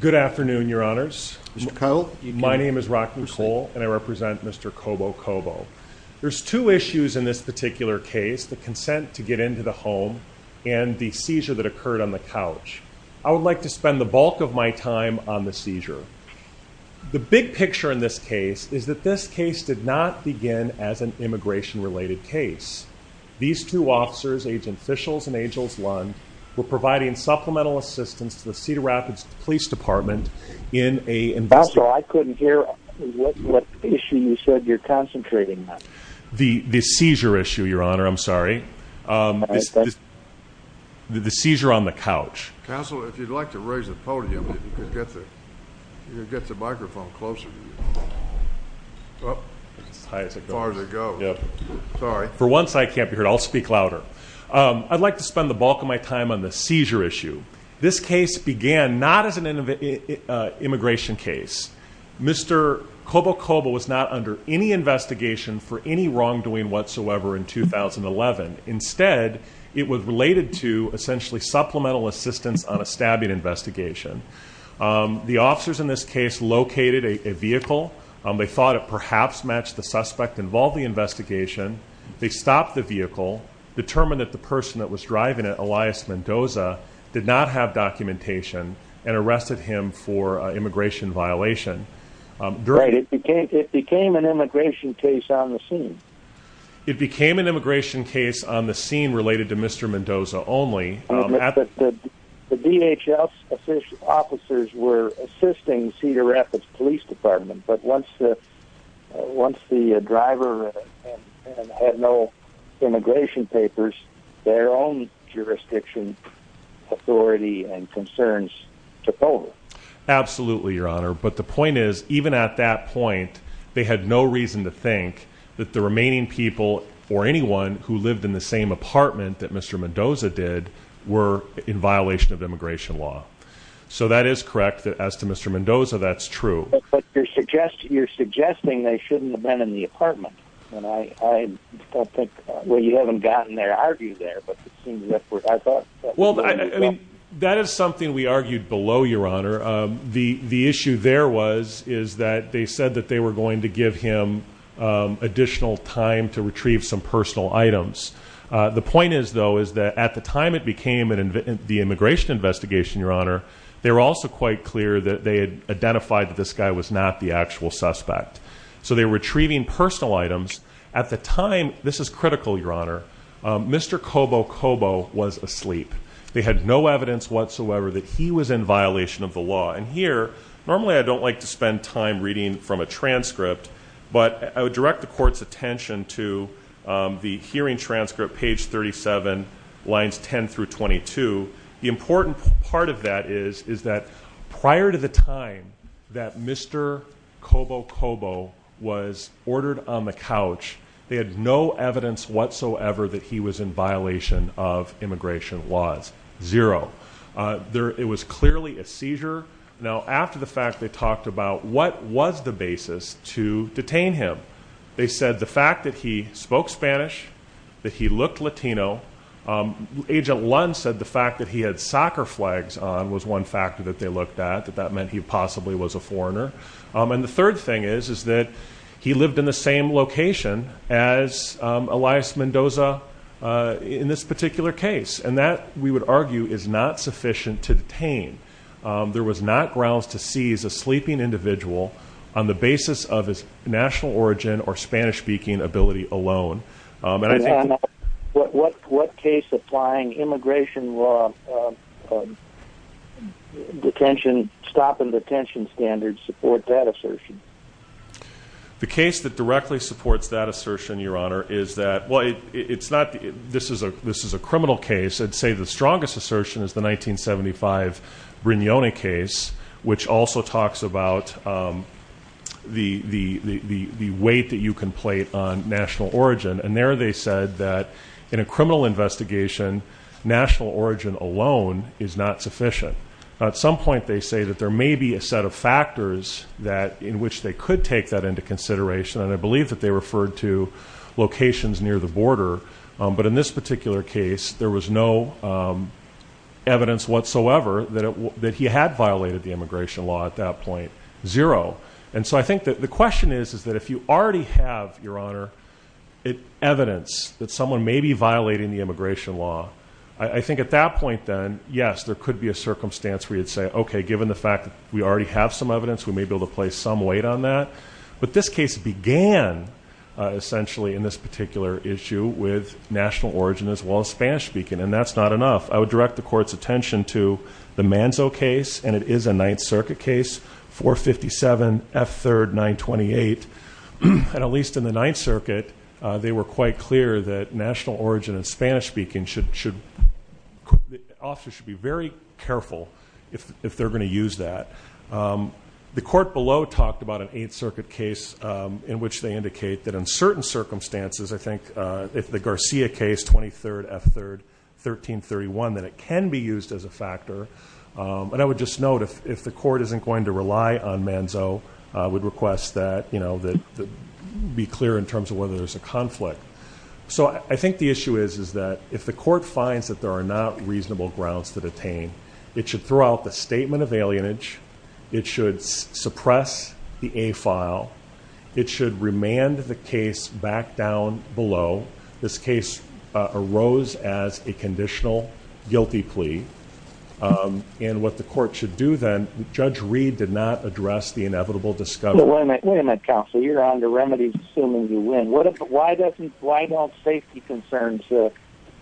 Good afternoon your honors. My name is Rocky Cole and I represent Mr. Cobo-Cobo. There's two issues in this particular case, the consent to get into the home and the seizure that occurred on the couch. I would like to spend the bulk of my time on the seizure. The big picture in this case is that this case did not begin as an immigration related case. These two officers, Agent Fishels and Agels Lund, were providing supplemental assistance to the Cedar Rapids Police Department in a investigation. Counsel, I couldn't hear what issue you said you're concentrating on. The seizure issue, your honor. I'm sorry. The seizure on the couch. Counsel, if you'd like to raise the podium, you could get the microphone closer to you. For once, I can't be heard. I'll speak louder. I'd like to spend the bulk of my time on the This case began not as an immigration case. Mr. Cobo-Cobo was not under any investigation for any wrongdoing whatsoever in 2011. Instead, it was related to essentially supplemental assistance on a stabbing investigation. The officers in this case located a vehicle. They thought it perhaps matched the suspect involved in the investigation. They stopped the vehicle, determined that the documentation, and arrested him for immigration violation. It became an immigration case on the scene. It became an immigration case on the scene related to Mr. Mendoza only. The DHS officers were assisting Cedar Rapids Police Department, but once the driver and had no immigration papers, their own jurisdiction authority and concerns took over. Absolutely, your honor. But the point is, even at that point, they had no reason to think that the remaining people or anyone who lived in the same apartment that Mr. Mendoza did were in violation of immigration law. So that is correct. As to Mr. Mendoza, that's true. But you're suggesting they shouldn't have been in the apartment. Well, you haven't gotten their argument there. That is something we argued below, your honor. The issue there was that they said that they were going to give him additional time to retrieve some personal items. The point is, though, is that at the time it became the immigration investigation, your honor, they were also quite clear that they had identified that this guy was not the actual suspect. So they were retrieving personal items. At the time, this is critical, your honor, Mr. Cobo-Cobo was asleep. They had no evidence whatsoever that he was in violation of the law. And here, normally I don't like to spend time reading from a transcript, but I would direct the court's attention to the hearing transcript, page 37, lines 10 through 22. The important part of that is that prior to the time that Mr. Cobo-Cobo was ordered on the couch, they had no evidence whatsoever that he was in violation of immigration laws. Zero. It was clearly a seizure. Now, after the fact, they talked about what was the basis to detain him. They said the fact that he spoke Spanish, that he looked Latino. Agent Lund said the fact that he had soccer flags on was one factor that they looked at, that that meant he possibly was a foreigner. And the third thing is, is that he lived in the same location as Elias Mendoza in this particular case. And that we would argue is not sufficient to detain. There was not grounds to seize a sleeping individual on the basis of his national origin or Spanish-speaking ability alone. And I think... What case applying immigration law detention, stop and detention standards support that assertion? The case that directly supports that assertion, Your Honor, is that, well, it's not, this is a criminal case. I'd say the strongest assertion is the 1975 Brignone case, which also talks about the weight that you can plate on national origin. And there, they said that in a criminal investigation, national origin alone is not sufficient. At some point, they say that there may be a set of factors in which they could take that into consideration. And I believe that they there was no evidence whatsoever that he had violated the immigration law at that point. Zero. And so I think that the question is, is that if you already have, Your Honor, evidence that someone may be violating the immigration law, I think at that point then, yes, there could be a circumstance where you'd say, okay, given the fact that we already have some evidence, we may be able to place some weight on that. But this case began essentially in this And that's not enough. I would direct the Court's attention to the Manzo case, and it is a Ninth Circuit case, 457 F3rd 928. And at least in the Ninth Circuit, they were quite clear that national origin in Spanish-speaking should, the officer should be very careful if they're going to use that. The Court below talked about an Eighth Circuit case in which they indicate that in 23rd F3rd 1331 that it can be used as a factor. And I would just note, if the Court isn't going to rely on Manzo, I would request that, you know, that be clear in terms of whether there's a conflict. So I think the issue is, is that if the Court finds that there are not reasonable grounds to detain, it should throw out the statement of alienage. It should suppress the A file. It should remand the case back down below. This case arose as a conditional guilty plea. And what the Court should do then, Judge Reed did not address the inevitable discovery. But wait a minute, counsel, you're on the remedies, assuming you win. Why don't safety concerns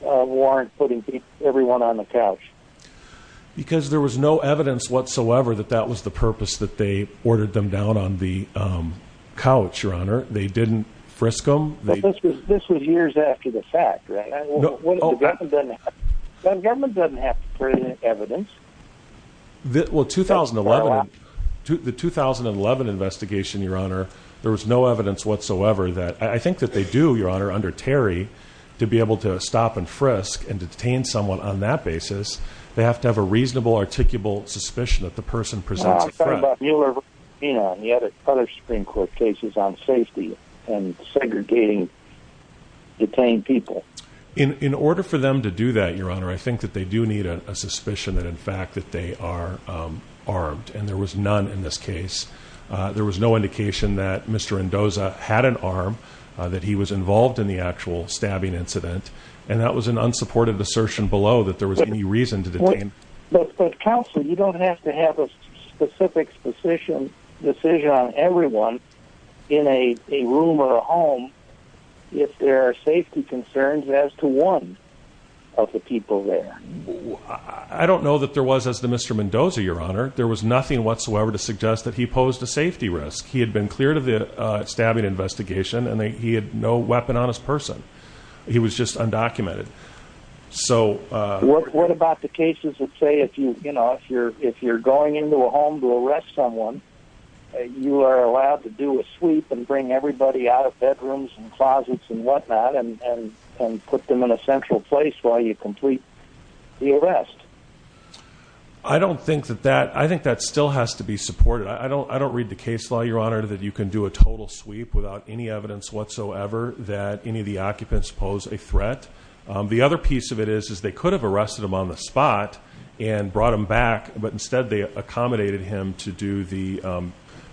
warrant putting everyone on the couch? Because there was no evidence whatsoever that was the purpose that they ordered them down on the couch, Your Honor. They didn't frisk them. This was years after the fact, right? Government doesn't have to present evidence. Well, the 2011 investigation, Your Honor, there was no evidence whatsoever that I think that they do, Your Honor, under Terry, to be able to stop and frisk and detain someone on that basis. They have to have a reasonable, articulable suspicion that the person presents. I thought about Mueller, you know, and the other other Supreme Court cases on safety and segregating detained people. In order for them to do that, Your Honor, I think that they do need a suspicion that in fact that they are armed. And there was none in this case. There was no indication that Mr. Endoza had an arm, that he was involved in the actual stabbing incident. And that was an unsupported assertion below that there was any reason to detain. But counsel, you don't have to have a specific decision on everyone in a room or a home if there are safety concerns as to one of the people there. I don't know that there was as the Mr. Mendoza, Your Honor. There was nothing whatsoever to suggest that he posed a safety risk. He had been cleared of the stabbing investigation and he had no weapon on his person. He was just undocumented. So what about the cases that say if you, you know, if you're if you're going into a home to arrest someone, you are allowed to do a sweep and bring everybody out of bedrooms and closets and whatnot and put them in a central place while you complete the arrest. I don't think that that I think that still has to be supported. I don't I don't read the case law, Your Honor, that you can do a total sweep without any evidence whatsoever that any of the occupants pose a threat. The other piece of it is, is they could have arrested him on the spot and brought him back, but instead they accommodated him to do the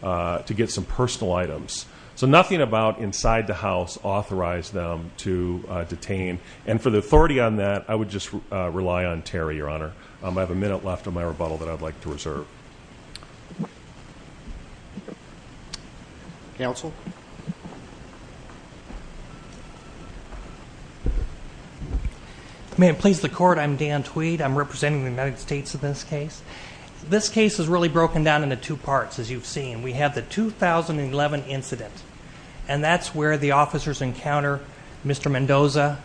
to get some personal items. So nothing about inside the house authorized them to detain. And for the authority on that, I would just rely on Terry, Your Honor. I have a minute left on my rebuttal that I'd like to counsel. May it please the court. I'm Dan Tweed. I'm representing the United States in this case. This case is really broken down into two parts. As you've seen, we have the 2011 incident, and that's where the officers encounter Mr Mendoza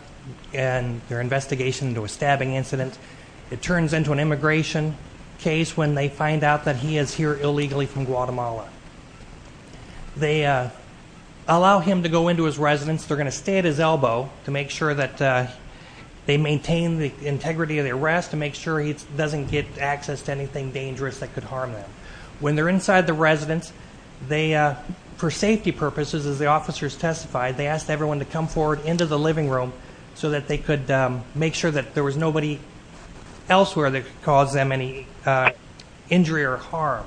and their investigation into a stabbing incident. It turns into an immigration case when they find out that he is here illegally from they allow him to go into his residence. They're going to stay at his elbow to make sure that they maintain the integrity of the arrest to make sure he doesn't get access to anything dangerous that could harm them when they're inside the residence. They for safety purposes, as the officers testified, they asked everyone to come forward into the living room so that they could make sure that there was nobody elsewhere that caused them any injury or harm.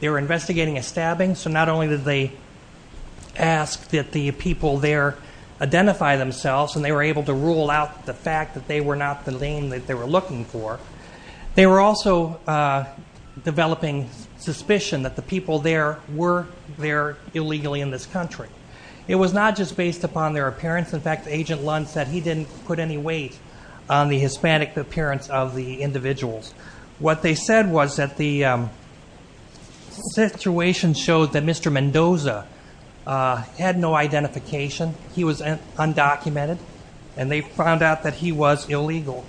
They were a stabbing, so not only did they ask that the people there identify themselves and they were able to rule out the fact that they were not the name that they were looking for, they were also developing suspicion that the people there were there illegally in this country. It was not just based upon their appearance. In fact, Agent Lund said he didn't put any weight on the Hispanic appearance of the individuals. What they said was that the situation showed that Mr Mendoza had no identification. He was undocumented and they found out that he was illegal.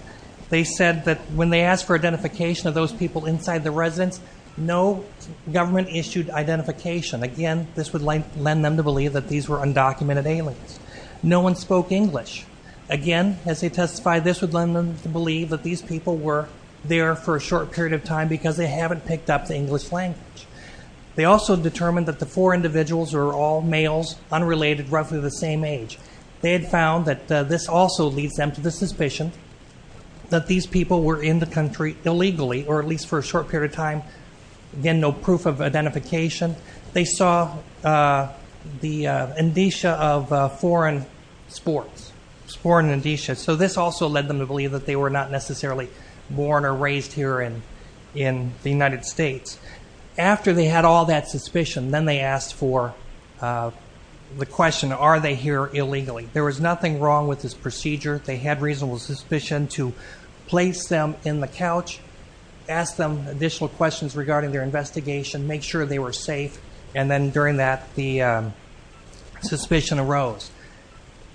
They said that when they asked for identification of those people inside the residence, no government issued identification. Again, this would lend them to believe that these were undocumented aliens. No one spoke English. Again, as they testified, this would lend them to believe that these people were there for a short period of time because they haven't picked up the English language. They also determined that the four individuals are all males, unrelated, roughly the same age. They had found that this also leads them to the suspicion that these people were in the country illegally, or at least for a short period of time. Again, no proof of identification. They saw the indicia of foreign sports. This also led them to believe that they were not necessarily born or raised here in the United States. After they had all that suspicion, then they asked for the question, are they here illegally? There was nothing wrong with this procedure. They had reasonable suspicion to place them in the couch, ask them additional questions regarding their investigation, make sure they were safe. Then during that, the suspicion arose.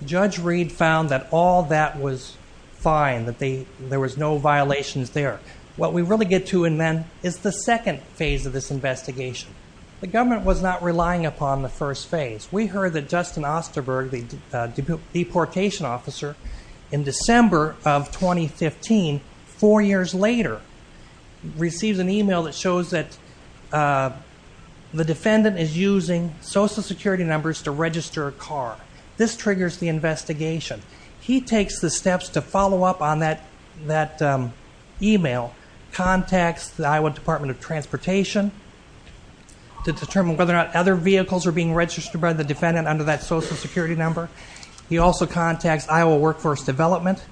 Judge Reed found that all that was fine, that there was no violations there. What we really get to then is the second phase of this investigation. The government was not relying upon the first phase. We heard that Justin Osterberg, the deportation officer, in December of 2015, four years later, receives an email that shows that the defendant is using social security numbers to register a car. This triggers the investigation. He takes the steps to follow up on that email, contacts the Iowa Department of Transportation to determine whether or not other vehicles are being registered by the defendant under that development,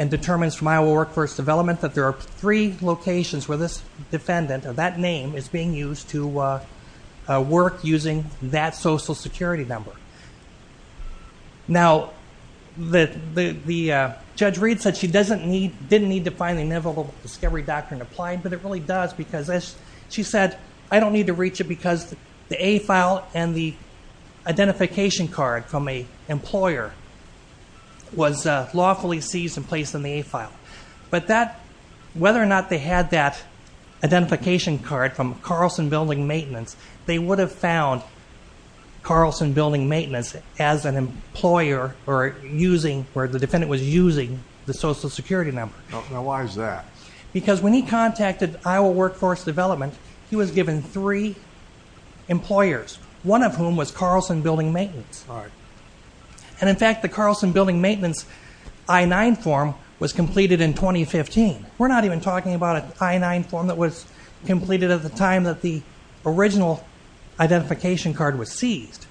and determines from Iowa Workforce Development that there are three locations where this defendant, or that name, is being used to work using that social security number. Now, Judge Reed said she didn't need to find the Inevitable Discovery Doctrine to apply, but it really does. She said, I don't need to reach it because the A file and the identification card from an employer was lawfully seized and placed in the A file. But whether or not they had that identification card from Carlson Building Maintenance, they would have found Carlson Building Maintenance as an employer where the defendant was using the social security number. Why is that? Because when he contacted Iowa Workforce Development, he was given three employers, one of whom was Carlson Building Maintenance. And in fact, the Carlson Building Maintenance I-9 form was completed in 2015. We're not even talking about an I-9 form that was completed at the time that the original identification card was seized.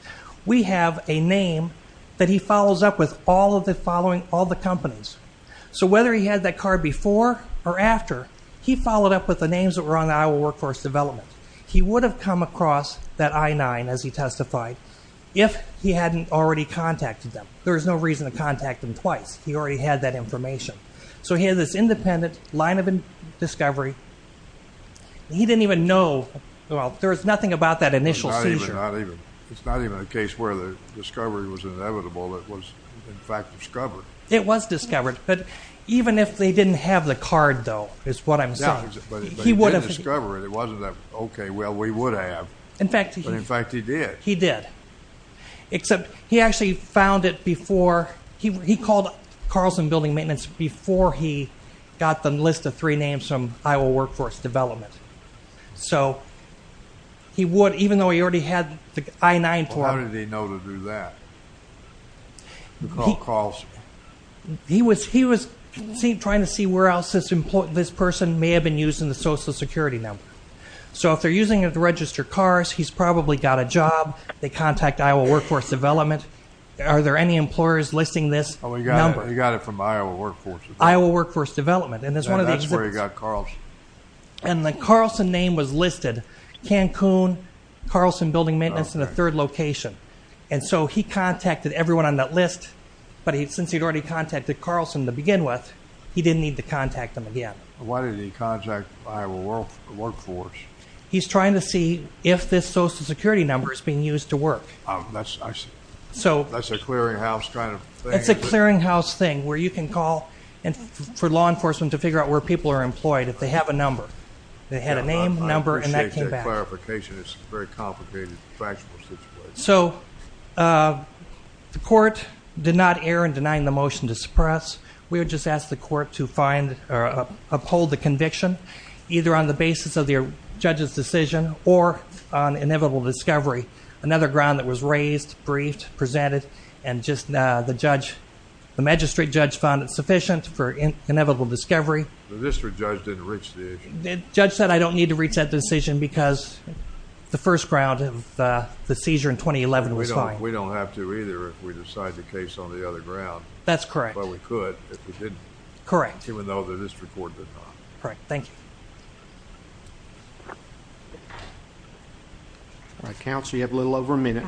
We have a name that he follows up with all of the companies. So whether he had that card before or after, he followed up with the names that were on the Iowa Workforce Development. He would have come across that I-9, as he testified, if he hadn't already contacted them. There was no reason to contact them twice. He already had that information. So he had this independent line of discovery. He didn't even know, well, there was nothing about that initial seizure. It's not even a case where the discovery was inevitable. It was, in fact, discovered. It was discovered. But even if they didn't have the card, though, is what I'm saying, he would have discovered it. It wasn't that, okay, well, we would have. But in fact, he did. He did. Except he actually found it before. He called Carlson Building Maintenance before he got the list of three names from Iowa Workforce Development. So he would, even though he already had the I-9 form. Well, how did he know to do that? He called Carlson. He was trying to see where else this person may have been using the Social Security number. So if they're using it to register cars, he's probably got a job. They contact Iowa Workforce Development. Are there any employers listing this number? He got it from Iowa Workforce Development. Iowa Workforce Development. And that's where he got Carlson. And the Carlson name was listed. Cancun, Carlson Building Maintenance in the third location. And so he contacted everyone on that list. But since he'd already contacted Carlson to begin with, he didn't need to contact them again. Why did he contact Iowa Workforce? He's trying to see if this Social Security number is being used to work. That's a clearinghouse kind of thing? It's a clearinghouse thing where you can call for law enforcement to figure out where people are employed if they have a number. They had a name, number, and that came back. I appreciate that clarification. It's a very good question. The court did not err in denying the motion to suppress. We would just ask the court to uphold the conviction, either on the basis of the judge's decision or on inevitable discovery. Another ground that was raised, briefed, presented, and the magistrate judge found it sufficient for inevitable discovery. The district judge didn't reach the issue? Judge said I don't need to reach that decision because the first ground of the seizure in 2011 was fine. We don't have to either if we decide the case on the other ground. That's correct. But we could if we didn't. Correct. Even though the district court did not. Correct. Thank you. Counsel, you have a little over a minute.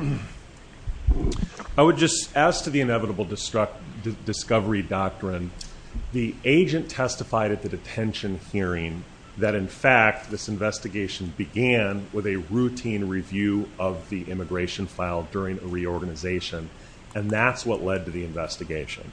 I would just ask to the inevitable discovery doctrine, the agent testified at the detention hearing that, in fact, this investigation began with a routine review of the immigration file during a reorganization. And that's what led to the investigation.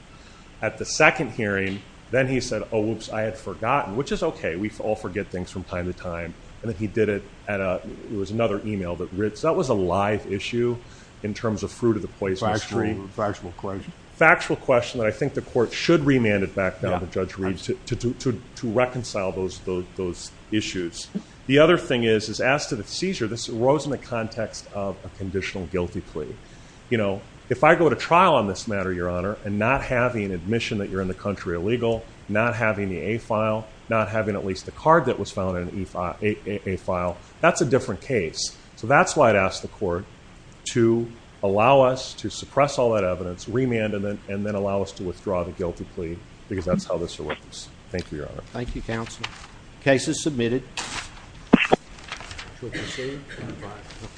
At the second hearing, then he said, oh, whoops, I had forgotten, which is okay. We all forget things from time to time. And then he did it at a, it was another email that, that was a live issue in terms of fruit of the poisonous tree. Factual question. Factual question that I think the court should remand it back to the judge to, to, to, to reconcile those, those, those issues. The other thing is, is asked to the seizure. This arose in the context of a conditional guilty plea. You know, if I go to trial on this matter, your honor, and not having admission that you're in the country illegal, not having the a file, not having at least the card that was found in a file, that's a different case. So that's why I'd ask the court to allow us to suppress all that evidence, remand, and then, and then allow us to withdraw the guilty plea because that's how this arose. Thank you, your honor. Thank you. Counsel cases submitted.